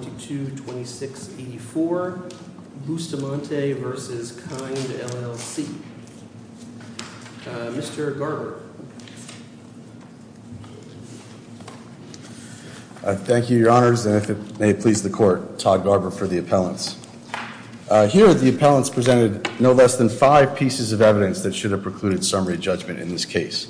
222684 BUSTAMANTE vs. KIND LLC Mr. Garber Thank you, your honors, and if it may please the court, Todd Garber for the appellants. Here the appellants presented no less than five pieces of evidence that should have precluded summary judgment in this case.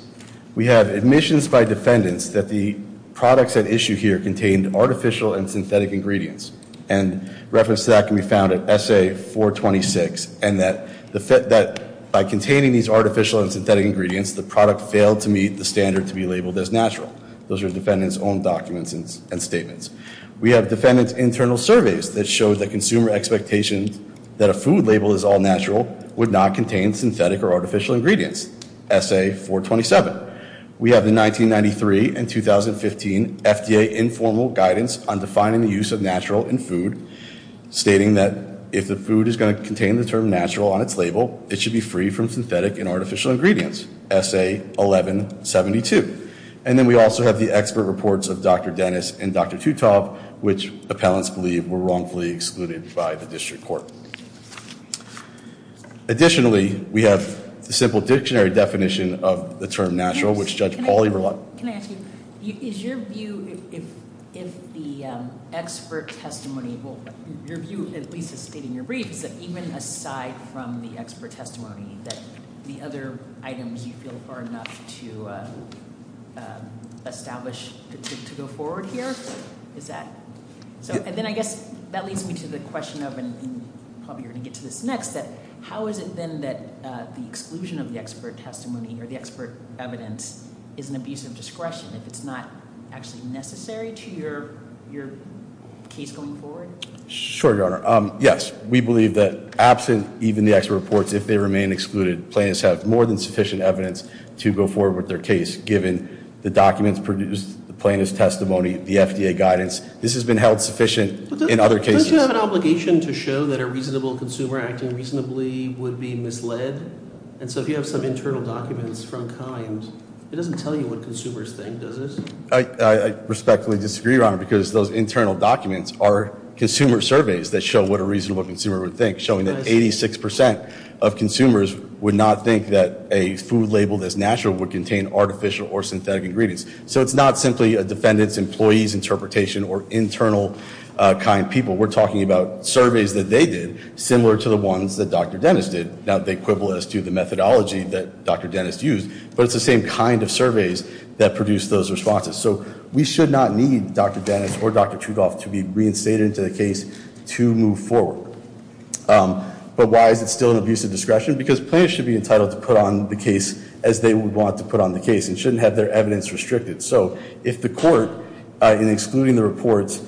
We have admissions by defendants that the products at issue here contained artificial and synthetic ingredients, and reference to that can be found at SA 426, and that by containing these artificial and synthetic ingredients, the product failed to meet the standard to be labeled as natural. Those are the defendant's own documents and statements. We have defendant's internal surveys that show that consumer expectations that a food label is all natural would not contain synthetic or artificial ingredients, SA 427. We have the 1993 and 2015 FDA informal guidance on defining the use of natural in food, stating that if the food is going to contain the term natural on its label, it should be free from synthetic and artificial ingredients, SA 1172. And then we also have the expert reports of Dr. Dennis and Dr. Teutob, which appellants believe were wrongfully excluded by the district court. Additionally, we have the simple dictionary definition of the term natural, which Judge Pauly relied on. Can I ask you, is your view, if the expert testimony, well, your view, at least, is stating your briefs, that even aside from the expert testimony, that the other items you feel are enough to establish, to go forward here, is that, so, and then I guess that leads me to the question of, and probably you're going to get to this next, that how is it then that the exclusion of the expert testimony or the expert evidence is an abuse of discretion if it's not actually necessary to your case going forward? Sure, Your Honor. Yes, we believe that absent even the expert reports, if they remain excluded, plaintiffs have more than sufficient evidence to go forward with their case, given the documents produced, the plaintiff's testimony, the FDA guidance. This has been held sufficient in other cases. Do plaintiffs have an obligation to show that a reasonable consumer acting reasonably would be misled? And so if you have some internal documents from kind, it doesn't tell you what consumers think, does it? I respectfully disagree, Your Honor, because those internal documents are consumer surveys that show what a reasonable consumer would think, showing that 86% of consumers would not think that a food labeled as natural would contain artificial or synthetic ingredients. So it's not simply a defendant's employee's interpretation or internal kind people. We're talking about surveys that they did, similar to the ones that Dr. Dennis did. Now they quibble as to the methodology that Dr. Dennis used, but it's the same kind of surveys that produced those responses. So we should not need Dr. Dennis or Dr. Trudolf to be reinstated into the case to move forward. But why is it still an abuse of discretion? Because plaintiffs should be entitled to put on the case as they would want to put on the case and shouldn't have their evidence restricted. So if the court, in excluding the reports,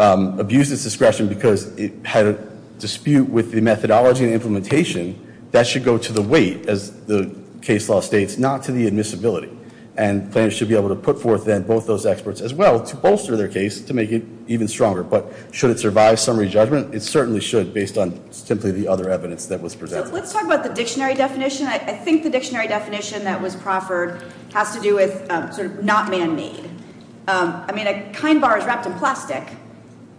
abused its discretion because it had a dispute with the methodology and implementation, that should go to the weight, as the case law states, not to the admissibility. And plaintiffs should be able to put forth then both those experts as well to bolster their case to make it even stronger. But should it survive summary judgment? It certainly should, based on simply the other evidence that was presented. So let's talk about the dictionary definition. I think the dictionary definition that was proffered has to do with sort of not man-made. I mean, a kind bar is wrapped in plastic.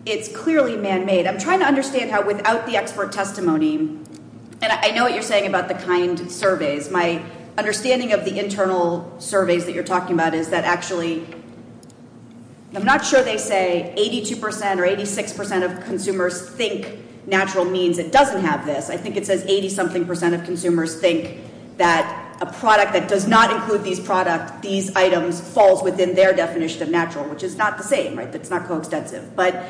It's clearly man-made. I'm trying to understand how without the expert testimony, and I know what you're saying about the kind surveys. My understanding of the internal surveys that you're talking about is that actually, I'm not sure they say 82 percent or 86 percent of consumers think natural means. It doesn't have this. I think it says 80-something percent of consumers think that a product that does not include these products, these items, falls within their definition of natural, which is not the same, right? That's not coextensive. But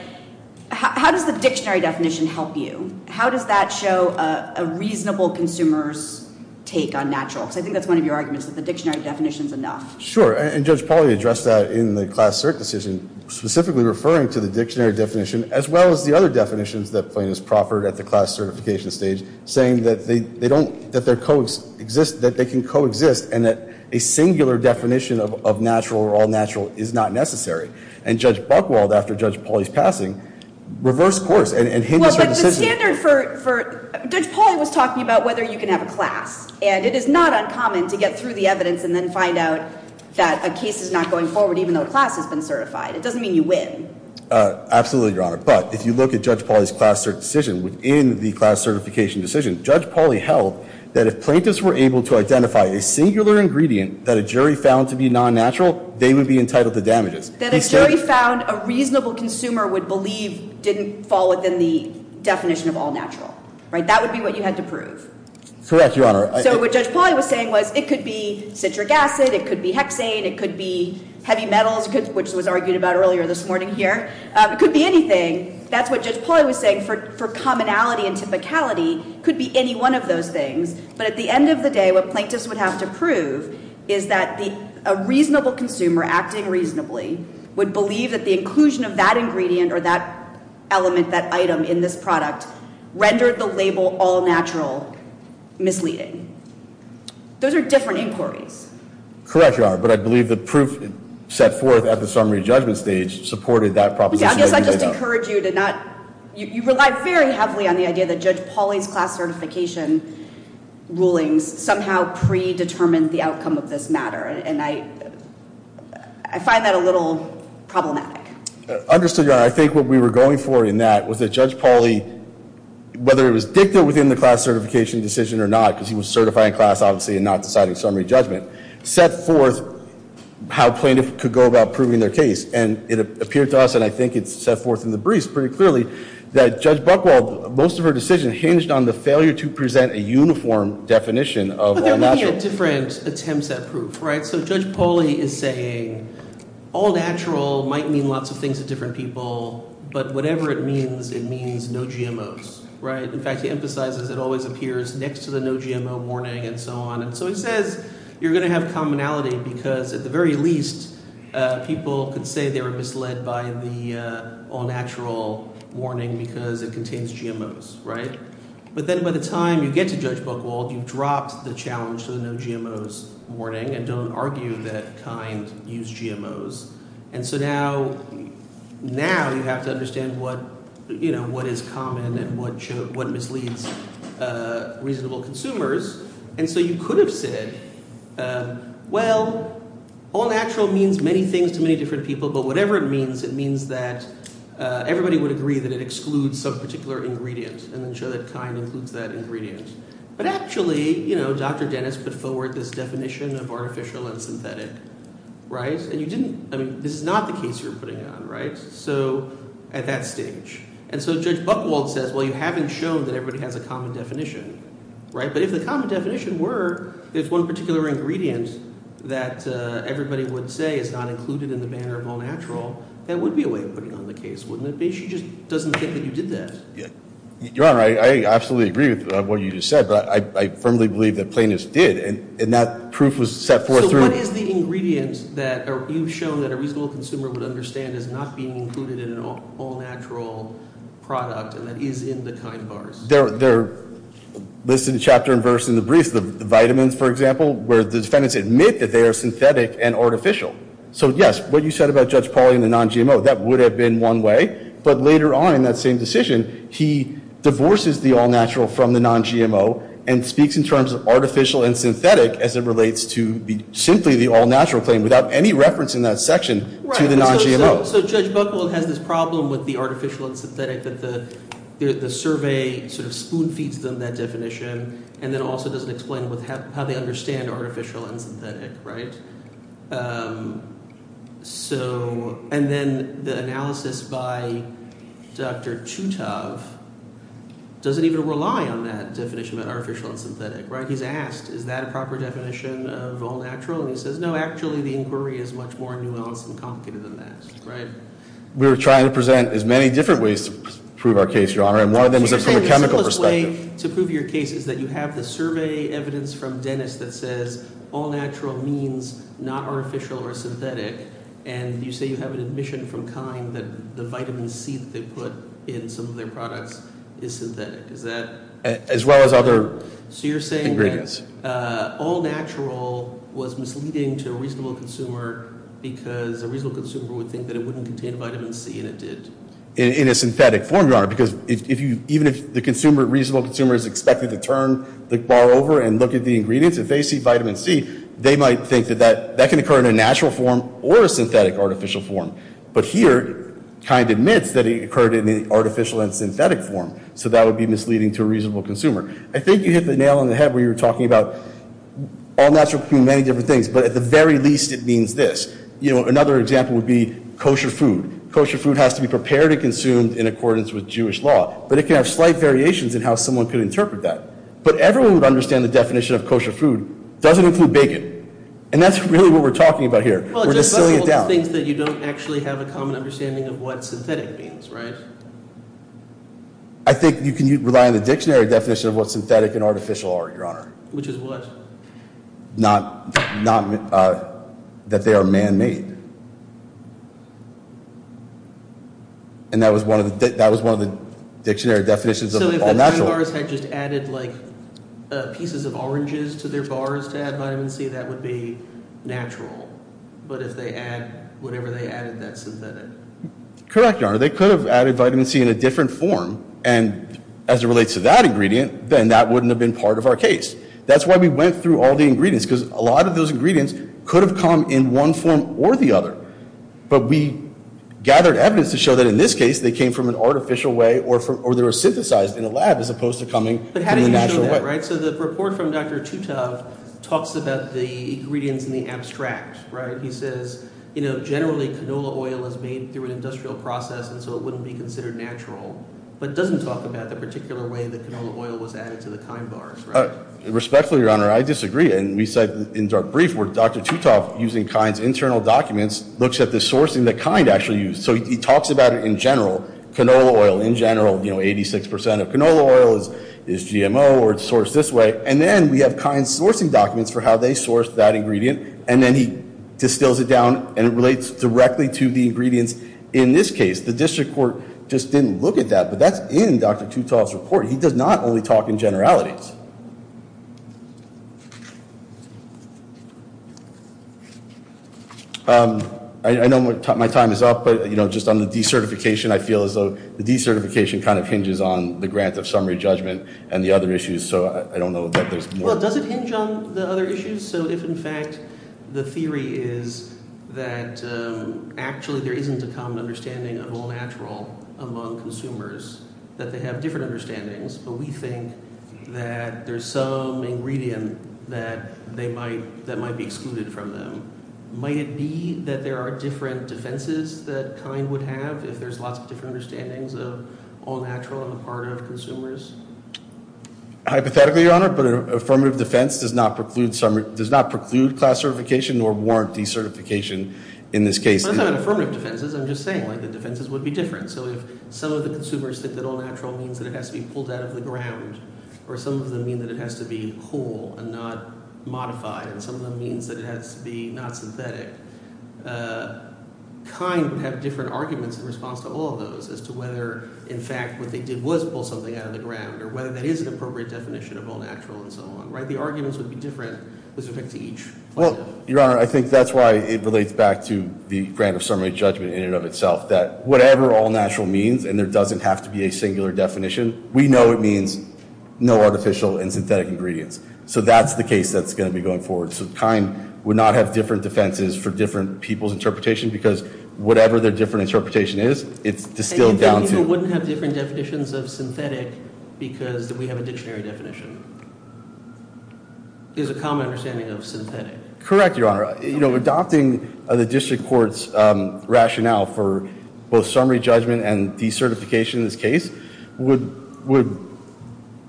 how does the dictionary definition help you? How does that show a reasonable consumer's take on natural? Because I think that's one of your arguments, that the dictionary definition is enough. Sure. And Judge Pauly addressed that in the class cert decision, specifically referring to the dictionary definition as well as the other definitions that plaintiffs proffered at the class certification stage, saying that they can coexist and that a singular definition of natural or all-natural is not necessary. And Judge Buchwald, after Judge Pauly's passing, reversed course and hinders her decision. But the standard for – Judge Pauly was talking about whether you can have a class, and it is not uncommon to get through the evidence and then find out that a case is not going forward even though a class has been certified. It doesn't mean you win. Absolutely, Your Honor. But if you look at Judge Pauly's class cert decision, within the class certification decision, Judge Pauly held that if plaintiffs were able to identify a singular ingredient that a jury found to be non-natural, they would be entitled to damages. That a jury found a reasonable consumer would believe didn't fall within the definition of all-natural. Right? That would be what you had to prove. Correct, Your Honor. So what Judge Pauly was saying was it could be citric acid, it could be hexane, it could be heavy metals, which was argued about earlier this morning here. It could be anything. That's what Judge Pauly was saying for commonality and typicality. It could be any one of those things. But at the end of the day, what plaintiffs would have to prove is that a reasonable consumer acting reasonably would believe that the inclusion of that ingredient or that element, that item in this product rendered the label all-natural misleading. Those are different inquiries. Correct, Your Honor. But I believe the proof set forth at the summary judgment stage supported that proposition. I guess I just encourage you to not, you relied very heavily on the idea that Judge Pauly's class certification rulings somehow predetermined the outcome of this matter. And I find that a little problematic. Understood, Your Honor. I think what we were going for in that was that Judge Pauly, whether it was dicta within the class certification decision or not, because he was certifying class, obviously, and not citing summary judgment, set forth how plaintiffs could go about proving their case. And it appeared to us, and I think it's set forth in the briefs pretty clearly, that Judge Buchwald, most of her decision hinged on the failure to present a uniform definition of all-natural. But there may be different attempts at proof, right? So Judge Pauly is saying all-natural might mean lots of things to different people, but whatever it means, it means no GMOs, right? In fact, he emphasizes it always appears next to the no GMO warning and so on. So he says you're going to have commonality because at the very least, people could say they were misled by the all-natural warning because it contains GMOs, right? But then by the time you get to Judge Buchwald, you've dropped the challenge to the no GMOs warning and don't argue that kind use GMOs. And so now you have to understand what is common and what misleads reasonable consumers. And so you could have said, well, all-natural means many things to many different people, but whatever it means, it means that everybody would agree that it excludes some particular ingredient and then show that kind includes that ingredient. But actually, you know, Dr. Dennis put forward this definition of artificial and synthetic, right? And you didn't – I mean, this is not the case you're putting on, right? So at that stage. And so Judge Buchwald says, well, you haven't shown that everybody has a common definition, right? But if the common definition were if one particular ingredient that everybody would say is not included in the manner of all-natural, that would be a way of putting on the case, wouldn't it be? She just doesn't think that you did that. Yeah. Your Honor, I absolutely agree with what you just said, but I firmly believe that Plaintiffs did. And that proof was set forth through – So what is the ingredient that you've shown that a reasonable consumer would understand is not being included in an all-natural product and that is in the kind bars? They're listed chapter and verse in the briefs. The vitamins, for example, where the defendants admit that they are synthetic and artificial. So yes, what you said about Judge Pauli and the non-GMO, that would have been one way. But later on in that same decision, he divorces the all-natural from the non-GMO and speaks in terms of artificial and synthetic as it relates to simply the all-natural claim without any reference in that section to the non-GMO. So Judge Buchholz has this problem with the artificial and synthetic that the survey sort of spoon-feeds them that definition and then also doesn't explain how they understand artificial and synthetic, right? So – and then the analysis by Dr. Tutov doesn't even rely on that definition about artificial and synthetic, right? He's asked, is that a proper definition of all-natural? And he says, no, actually the inquiry is much more nuanced and complicated than that, right? We were trying to present as many different ways to prove our case, Your Honor. And one of them was from a chemical perspective. You're saying the simplest way to prove your case is that you have the survey evidence from Dennis that says all-natural means not artificial or synthetic. And you say you have an admission from KIND that the vitamin C that they put in some of their products is synthetic. Is that – As well as other ingredients. All-natural was misleading to a reasonable consumer because a reasonable consumer would think that it wouldn't contain vitamin C and it did. In a synthetic form, Your Honor, because if you – even if the consumer, reasonable consumer is expected to turn the bar over and look at the ingredients, if they see vitamin C, they might think that that can occur in a natural form or a synthetic artificial form. But here, KIND admits that it occurred in the artificial and synthetic form. So that would be misleading to a reasonable consumer. I think you hit the nail on the head where you were talking about all-natural can mean many different things. But at the very least, it means this. Another example would be kosher food. Kosher food has to be prepared and consumed in accordance with Jewish law. But it can have slight variations in how someone could interpret that. But everyone would understand the definition of kosher food doesn't include bacon. And that's really what we're talking about here. We're just slowing it down. Well, it just bustles with the things that you don't actually have a common understanding of what synthetic means, right? I think you can rely on the dictionary definition of what synthetic and artificial are, Your Honor. Which is what? Not that they are man-made. And that was one of the dictionary definitions of all-natural. So if the three bars had just added pieces of oranges to their bars to add vitamin C, that would be natural. But if they add whatever they added, that's synthetic. Correct, Your Honor. They could have added vitamin C in a different form. And as it relates to that ingredient, then that wouldn't have been part of our case. That's why we went through all the ingredients. Because a lot of those ingredients could have come in one form or the other. But we gathered evidence to show that in this case, they came from an artificial way or they were synthesized in a lab as opposed to coming from the natural way. But how do you show that, right? So the report from Dr. Tutov talks about the ingredients in the abstract, right? He says, you know, generally canola oil is made through an industrial process and so it wouldn't be considered natural. But it doesn't talk about the particular way that canola oil was added to the Kind bars, right? Respectfully, Your Honor, I disagree. And we said in our brief where Dr. Tutov, using Kind's internal documents, looks at the sourcing that Kind actually used. So he talks about it in general. Canola oil in general, you know, 86% of canola oil is GMO or it's sourced this way. And then we have Kind's sourcing documents for how they sourced that ingredient. And then he distills it down and it relates directly to the ingredients in this case. The district court just didn't look at that. But that's in Dr. Tutov's report. He does not only talk in generalities. I know my time is up. But, you know, just on the decertification, I feel as though the decertification kind of hinges on the grant of summary judgment and the other issues. So I don't know that there's more. Well, does it hinge on the other issues? So if, in fact, the theory is that actually there isn't a common understanding of all natural among consumers, that they have different understandings, but we think that there's some ingredient that might be excluded from them. Might it be that there are different defenses that Kind would have if there's lots of different understandings of all natural on the part of consumers? Hypothetically, Your Honor, but an affirmative defense does not preclude class certification nor warrant decertification in this case. I'm not talking about affirmative defenses. I'm just saying the defenses would be different. So if some of the consumers think that all natural means that it has to be pulled out of the ground or some of them mean that it has to be whole and not modified and some of them means that it has to be not synthetic, Kind would have different arguments in response to all of those as to whether, in fact, what they did was pull something out of the ground or whether that is an appropriate definition of all natural and so on. The arguments would be different with respect to each. Your Honor, I think that's why it relates back to the grant of summary judgment in and of itself, that whatever all natural means and there doesn't have to be a singular definition, we know it means no artificial and synthetic ingredients. So that's the case that's going to be going forward. So Kind would not have different defenses for different people's interpretation because whatever their different interpretation is, it's distilled down to... And you think people wouldn't have different definitions of synthetic because we have a dictionary definition? There's a common understanding of synthetic. Correct, Your Honor. Adopting the district court's rationale for both summary judgment and decertification in this case would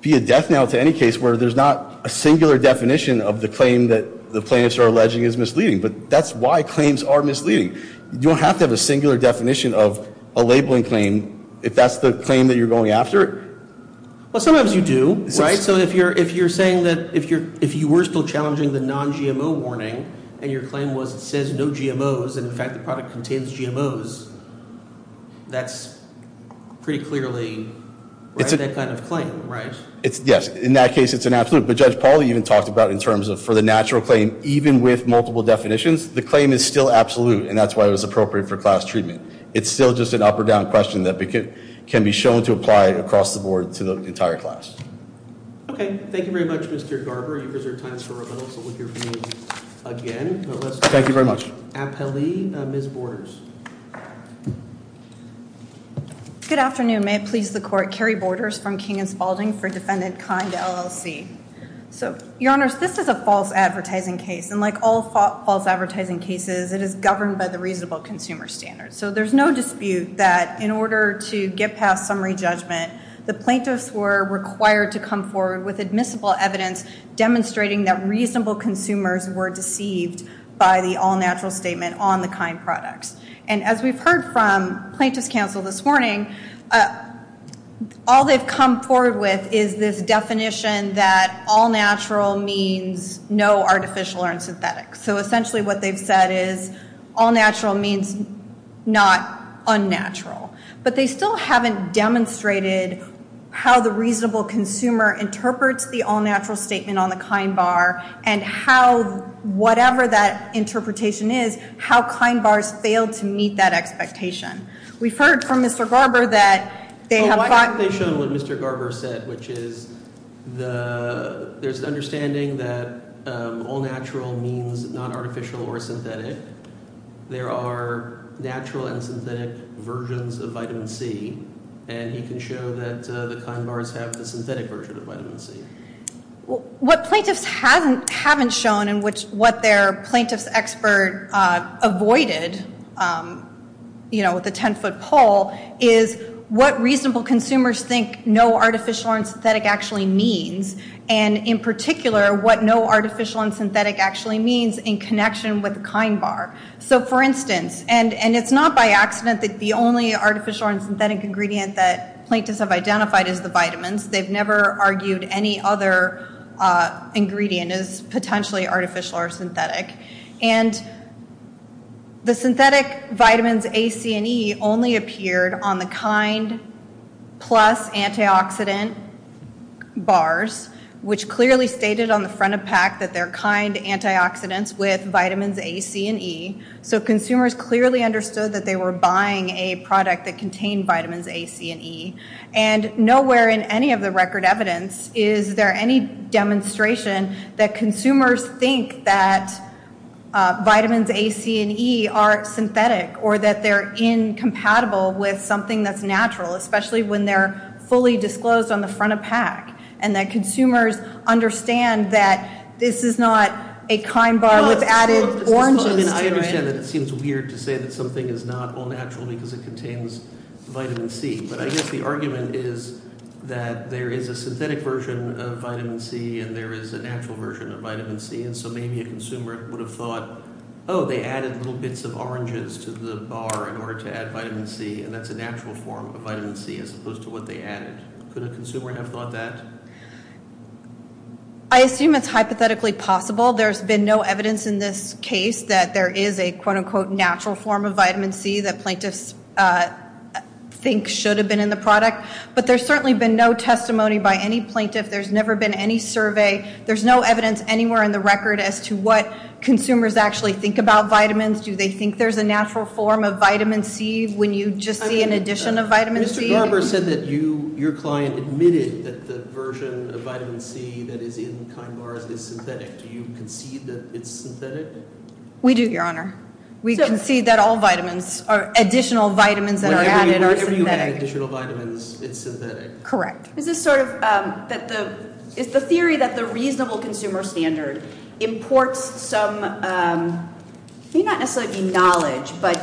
be a death knell to any case where there's not a singular definition of the claim that the plaintiffs are alleging is misleading. But that's why claims are misleading. You don't have to have a singular definition of a labelling claim if that's the claim that you're going after. Well, sometimes you do, right? So if you're saying that... If you were still challenging the non-GMO warning and your claim was it says no GMOs and, in fact, the product contains GMOs, that's pretty clearly that kind of claim, right? Yes. In that case, it's an absolute. But Judge Pauly even talked about in terms of for the natural claim, even with multiple definitions, the claim is still absolute and that's why it was appropriate for class treatment. It's still just an up-or-down question that can be shown to apply across the board to the entire class. Okay. Thank you very much, Mr. Garber. You've reserved time for rebuttals, so we'll hear from you again. Thank you very much. Ms. Borders. Good afternoon. May it please the Court, Carrie Borders from King & Spalding for Defendant Kind, LLC. So, Your Honors, this is a false advertising case and like all false advertising cases, it is governed by the reasonable consumer standard. So there's no dispute that in order to get past summary judgment, the plaintiffs were required to come forward with admissible evidence demonstrating that reasonable consumers were deceived by the all-natural statement on the kind products. And as we've heard from plaintiffs' counsel this morning, all they've come forward with is this definition that all-natural means no artificial or synthetic. So essentially what they've said is all-natural means not unnatural. But they still haven't demonstrated how the reasonable consumer interprets the all-natural statement on the kind bar and how whatever that interpretation is, how kind bars fail to meet that expectation. We've heard from Mr. Garber that they have thought... Well, I think they've shown what Mr. Garber said, which is there's an understanding that all-natural means not artificial or synthetic. There are natural and synthetic versions of vitamin C, and you can show that the kind bars have the synthetic version of vitamin C. What plaintiffs haven't shown and what their plaintiffs' expert avoided with a 10-foot pole is what reasonable consumers think no artificial or synthetic actually means and in particular what no artificial and synthetic actually means in connection with the kind bar. So for instance, and it's not by accident that the only artificial or synthetic ingredient that plaintiffs have identified is the vitamins. They've never argued any other ingredient is potentially artificial or synthetic. And the synthetic vitamins A, C, and E only appeared on the kind plus antioxidant bars, which clearly stated on the front of PAC that they're kind antioxidants with vitamins A, C, and E. So consumers clearly understood that they were buying a product that contained vitamins A, C, and E, and nowhere in any of the record evidence is there any demonstration that consumers think that vitamins A, C, and E are synthetic or that they're incompatible with something that's natural, especially when they're fully disclosed on the front of PAC and that consumers understand that this is not a kind bar with added oranges to it. I understand that it seems weird to say that something is not all natural because it contains vitamin C, but I guess the argument is that there is a synthetic version of vitamin C and there is a natural version of vitamin C and so maybe a consumer would have thought oh, they added little bits of oranges to the bar in order to add vitamin C and that's a natural form of vitamin C as opposed to what they added. Could a consumer have thought that? I assume it's hypothetically possible. There's been no evidence in this case that there is a natural form of vitamin C that plaintiffs think should have been in the product, but there's certainly been no testimony by any plaintiff. There's never been any survey. There's no evidence anywhere in the record as to what consumers actually think about vitamins. Do they think there's a natural form of vitamin C when you just see an addition of vitamin C? Mr. Garber said that your client admitted that the version of vitamin C that is in Kind Bars is synthetic. Do you concede that it's synthetic? We do, Your Honor. We concede that all vitamins, additional vitamins that are added are synthetic. Whenever you add additional vitamins, it's synthetic. Correct. Is the theory that the reasonable consumer standard imports some not necessarily knowledge, but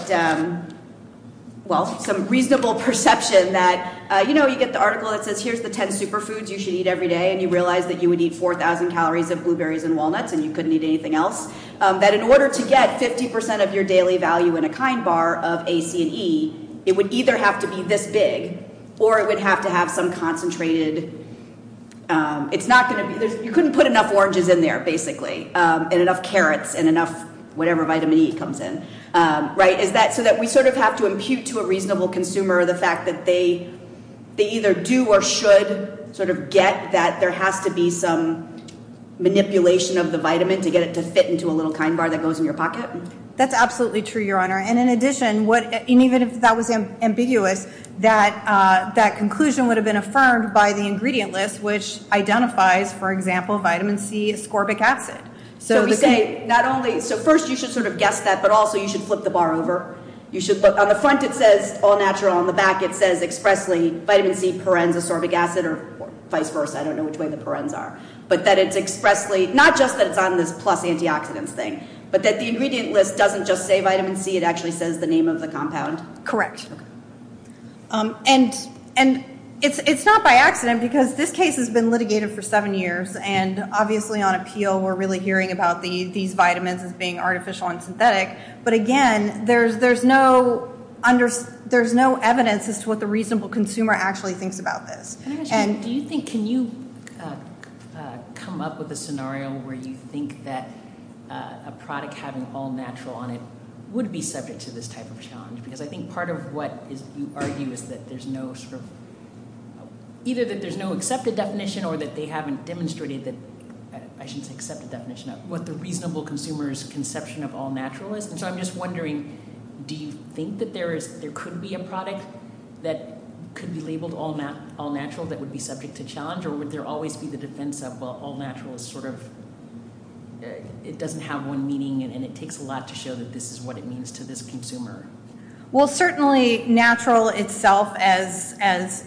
some reasonable perception that, you know, you get the article that says, here's the 10 superfoods you should eat every day, and you realize that you would eat 4,000 calories of blueberries and walnuts and you couldn't eat anything else, that in order to get 50% of your daily value in a Kind Bar of A, C, and E, it would either have to be this big or it would have to have some concentrated you couldn't put enough oranges in there, basically, and enough carrots and enough whatever vitamin E comes in. Is that so that we sort of have to impute to a reasonable consumer the fact that they either do or should sort of get that there has to be some manipulation of the vitamin to get it to fit into a little Kind Bar that goes in your pocket? That's absolutely true, Your Honor. And in addition, that conclusion would have been affirmed by the ingredient list which identifies, for example, vitamin C ascorbic acid. So we say, not only, so first you should sort of guess that, but also you should flip the bar over. On the front it says all natural, on the back it says expressly vitamin C, parens, ascorbic acid or vice versa, I don't know which way the parens are, but that it's expressly, not just that it's on this plus antioxidants thing, but that the ingredient list doesn't just say vitamin C, it actually says the name of the compound. Correct. And it's not by accident, because this case has been litigated for seven years, and obviously on appeal we're really hearing about these vitamins as being artificial and synthetic, but again, there's no evidence as to what the reasonable consumer actually thinks about this. Can you come up with a scenario where you think that a product having all natural on it would be subject to this type of challenge? Because I think part of what you argue is that there's no either that there's no accepted definition or that they haven't demonstrated that, I shouldn't say accepted definition, what the reasonable consumer's conception of all natural is, and so I'm just wondering, do you think that there could be a product that could be labeled all natural that would be subject to challenge, or would there always be the defense of, well, all natural is sort of it doesn't have one meaning, and it takes a lot to show that this is what it means to this consumer. Well, certainly natural itself, as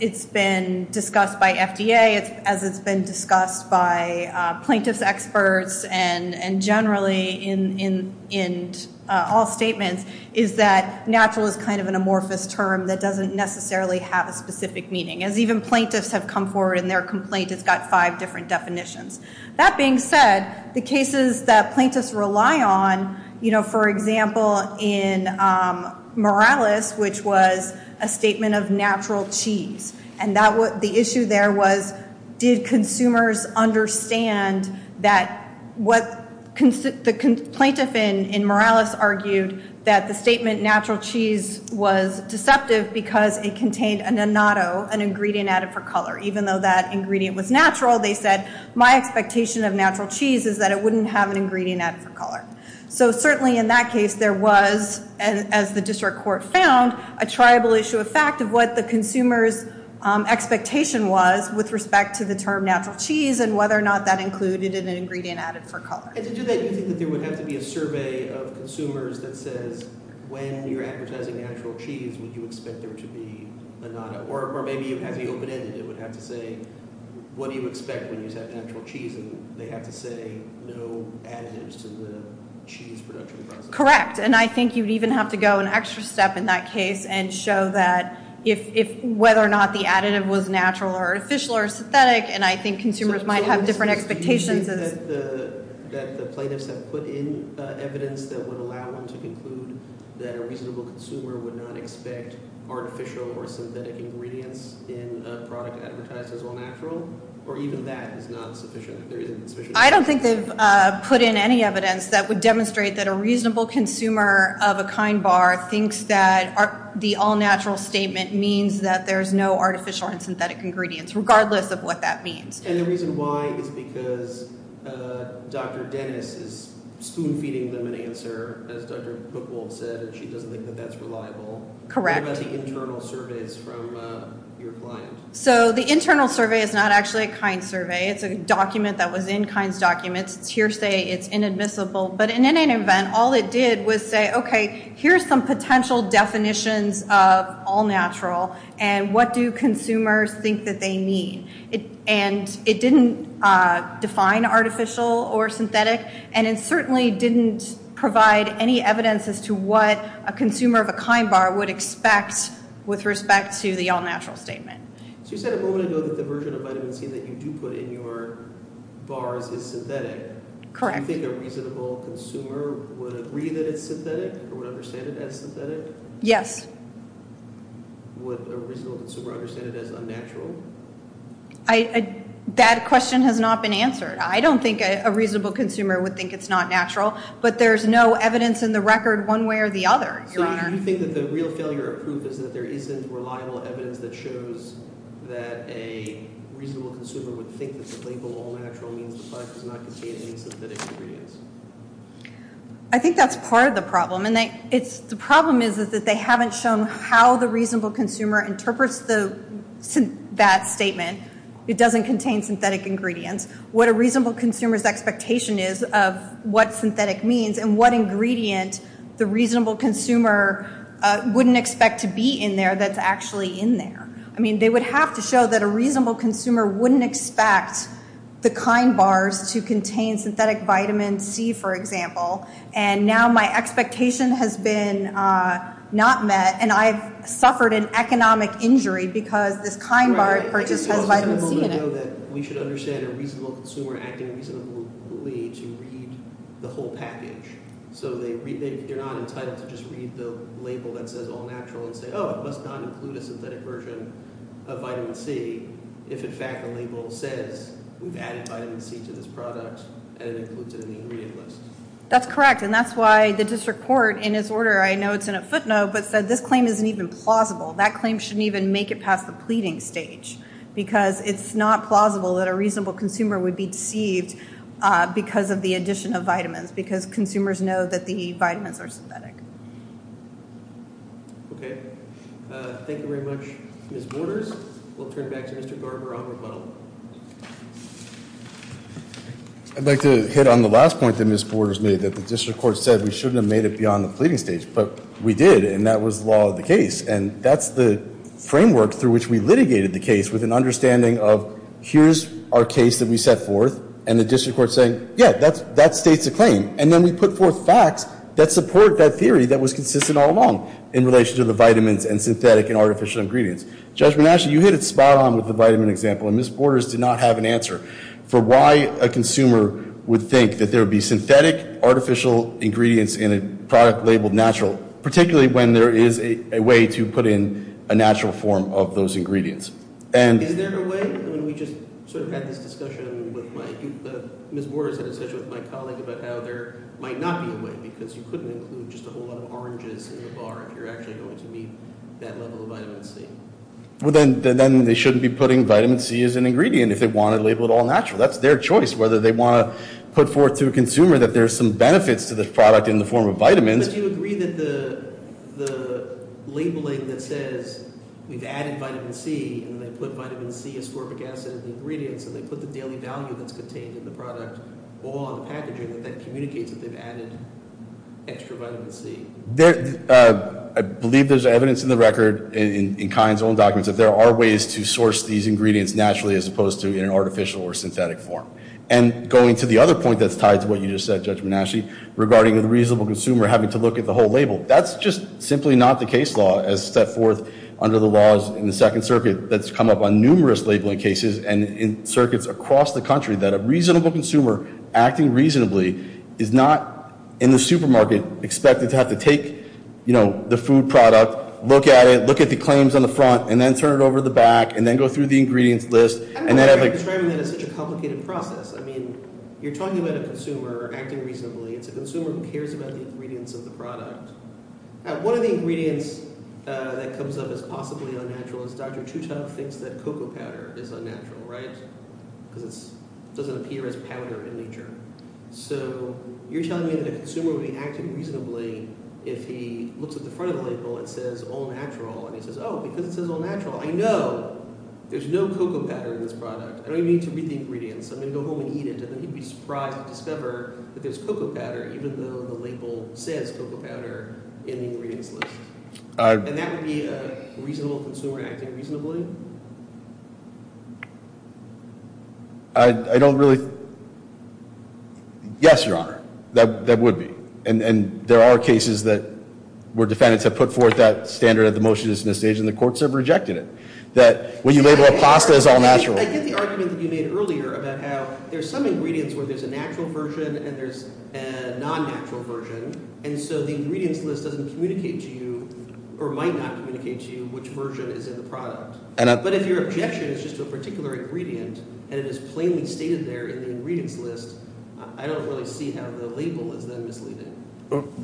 it's been discussed by FDA, as it's been discussed by plaintiffs' experts and generally in all statements, is that natural is kind of an amorphous term that doesn't necessarily have a specific meaning, as even plaintiffs have come forward in their complaint it's got five different definitions. That being said, the cases that plaintiffs rely on, for example, in was a statement of natural cheese, and the issue there was, did consumers understand that what the plaintiff in Morales argued that the statement natural cheese was deceptive because it contained a natto, an ingredient added for color. Even though that ingredient was natural, they said, my expectation of natural cheese is that it wouldn't have an ingredient added for color. So certainly in that case, there was, as the district court found, a triable issue of fact of what the consumer's expectation was with respect to the term natural cheese and whether or not that included an ingredient added for color. And to do that, do you think that there would have to be a survey of consumers that says, when you're advertising natural cheese, would you expect there to be a natto? Or maybe as the open-ended, it would have to say what do you expect when you have natural cheese and they have to say no additives to the cheese production process? Correct. And I think you'd even have to go an extra step in that case and show that if whether or not the additive was natural or artificial or synthetic, and I think consumers might have different expectations Do you think that the plaintiffs have put in evidence that would allow them to conclude that a reasonable consumer would not expect artificial or synthetic ingredients in a product advertised as all natural? Or even that is not sufficient? I don't think they've put in any evidence that would demonstrate that a reasonable consumer of a Kind bar thinks that the all natural statement means that there's no artificial or synthetic ingredients, regardless of what that means. And the reason why is because Dr. Dennis is spoon-feeding them an answer as Dr. Buchwald said, and she doesn't think that that's reliable. Correct. What about the internal surveys from your client? So the internal survey is not actually a Kind survey, it's a hearsay, it's inadmissible, but in any event, all it did was say, okay here's some potential definitions of all natural and what do consumers think that they mean. And it didn't define artificial or synthetic, and it certainly didn't provide any evidence as to what a consumer of a Kind bar would expect with respect to the all natural statement. So you said a moment ago that the version of vitamin C that you do put in your bars is synthetic. Correct. Do you think a reasonable consumer would agree that it's synthetic, or would understand it as synthetic? Yes. Would a reasonable consumer understand it as unnatural? That question has not been answered. I don't think a reasonable consumer would think it's not natural, but there's no evidence in the record one way or the other, Your Honor. So you think that the real failure of proof is that there isn't reliable evidence that shows that a reasonable consumer would think that the label all natural means the product does not contain any synthetic ingredients? I think that's part of the problem. The problem is that they haven't shown how the reasonable consumer interprets that statement. It doesn't contain synthetic ingredients. What a reasonable consumer's expectation is of what synthetic means and what ingredient the reasonable consumer wouldn't expect to be in there that's actually in there. I mean, they would have to show that a reasonable consumer wouldn't expect the KIND bars to contain synthetic vitamin C for example, and now my expectation has been not met, and I've suffered an economic injury because this KIND bar purchase has vitamin C in it. We should understand a reasonable consumer acting reasonably to read the whole package. So they're not entitled to just read the label that says all natural and say, oh, it must not include a synthetic version of vitamin C if in fact the label says we've added vitamin C to this product and it includes it in the ingredient list. That's correct, and that's why the district court in its order, I know it's in a footnote, but said this claim isn't even plausible. That claim shouldn't even make it past the pleading stage because it's not plausible that a reasonable consumer would be deceived because of the addition of vitamins, because consumers know that the vitamins are synthetic. Okay. Thank you very much, Ms. Borders. We'll turn back to Mr. Garber on rebuttal. I'd like to hit on the last point that Ms. Borders made, that the district court said we shouldn't have made it beyond the pleading stage, but we did and that was the law of the case, and that's the framework through which we litigated the case with an understanding of here's our case that we set forth and the district court saying, yeah, that states the claim, and then we put forth facts that support that theory that was consistent all along in relation to the vitamins and synthetic and artificial ingredients. Judge Bonacci, you hit it spot on with the vitamin example, and Ms. Borders did not have an answer for why a consumer would think that there would be synthetic artificial ingredients in a product labeled natural, particularly when there is a way to put in a natural form of those ingredients. Is there a way, I mean we just sort of had this discussion with my Ms. Borders and essentially with my because you couldn't include just a whole lot of oranges in the bar if you're actually going to meet that level of vitamin C. Well then they shouldn't be putting vitamin C as an ingredient if they want to label it all natural. That's their choice whether they want to put forth to a consumer that there's some benefits to the product in the form of vitamins But do you agree that the labeling that says we've added vitamin C and they put vitamin C, ascorbic acid in the ingredients and they put the daily value that's contained in the product all on the packaging that communicates that they've added extra vitamin C? I believe there's evidence in the record, in Kyan's own documents that there are ways to source these ingredients naturally as opposed to in an artificial or synthetic form. And going to the other point that's tied to what you just said Judge Manasci regarding the reasonable consumer having to look at the whole label, that's just simply not the case law as set forth under the laws in the Second Circuit that's come up on numerous labeling cases and in circuits across the country that a is not in the supermarket expected to have to take the food product, look at it look at the claims on the front and then turn it over to the back and then go through the ingredients list I don't know why you're describing that as such a complicated process. I mean, you're talking about a consumer acting reasonably, it's a consumer who cares about the ingredients of the product One of the ingredients that comes up as possibly unnatural is Dr. Tuttle thinks that cocoa powder is unnatural, right? Because it doesn't appear as So, you're telling me that a consumer would be acting reasonably if he looks at the front of the label and says all natural and he says, oh, because it says all natural I know! There's no cocoa powder in this product. I don't even need to read the ingredients I'm going to go home and eat it and then he'd be surprised to discover that there's cocoa powder even though the label says cocoa powder in the ingredients list And that would be a reasonable consumer acting reasonably? I don't really Yes, Your Honor That would be And there are cases that where defendants have put forth that standard of the motion at this stage and the courts have rejected it That when you label a pasta as all natural I get the argument that you made earlier about how there's some ingredients where there's a natural version and there's a non-natural version and so the ingredients list doesn't communicate to you or might not communicate to you which version is in the product But if your objection is just to a particular ingredient and it is plainly stated there in the ingredients list I don't really see how the label is then misleading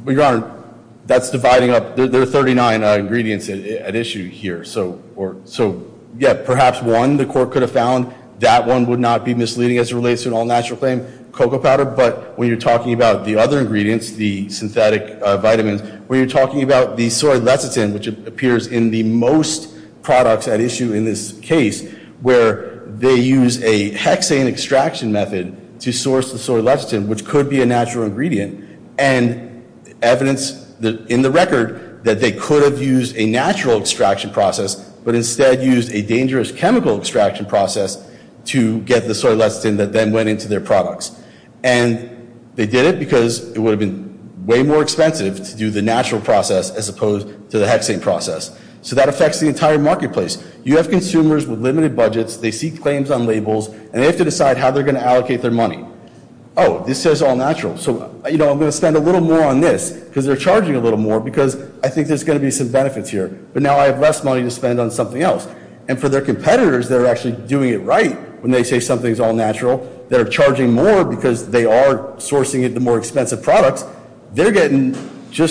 Your Honor That's dividing up, there are 39 ingredients at issue here So, yeah, perhaps one the court could have found, that one would not be misleading as it relates to an all natural claim cocoa powder, but when you're talking about the other ingredients, the synthetic vitamins, when you're talking about the soy lecithin, which appears in the most products at issue in this case, where they use a hexane extraction method to source the soy lecithin, which could be a natural ingredient, and evidence in the record that they could have used a natural extraction process, but instead used a dangerous chemical extraction process to get the soy lecithin that then went into their products and they did it because it would have been way more expensive to do the natural process as opposed to the hexane process, so that affects the entire marketplace. You have consumers with limited budgets, they see claims on labels and they have to decide how they're going to allocate their money. Oh, this says all natural so, you know, I'm going to spend a little more on this, because they're charging a little more because I think there's going to be some benefits here but now I have less money to spend on something else and for their competitors that are actually doing it right, when they say something's all natural they're charging more because they are sourcing it to more expensive products, they're getting just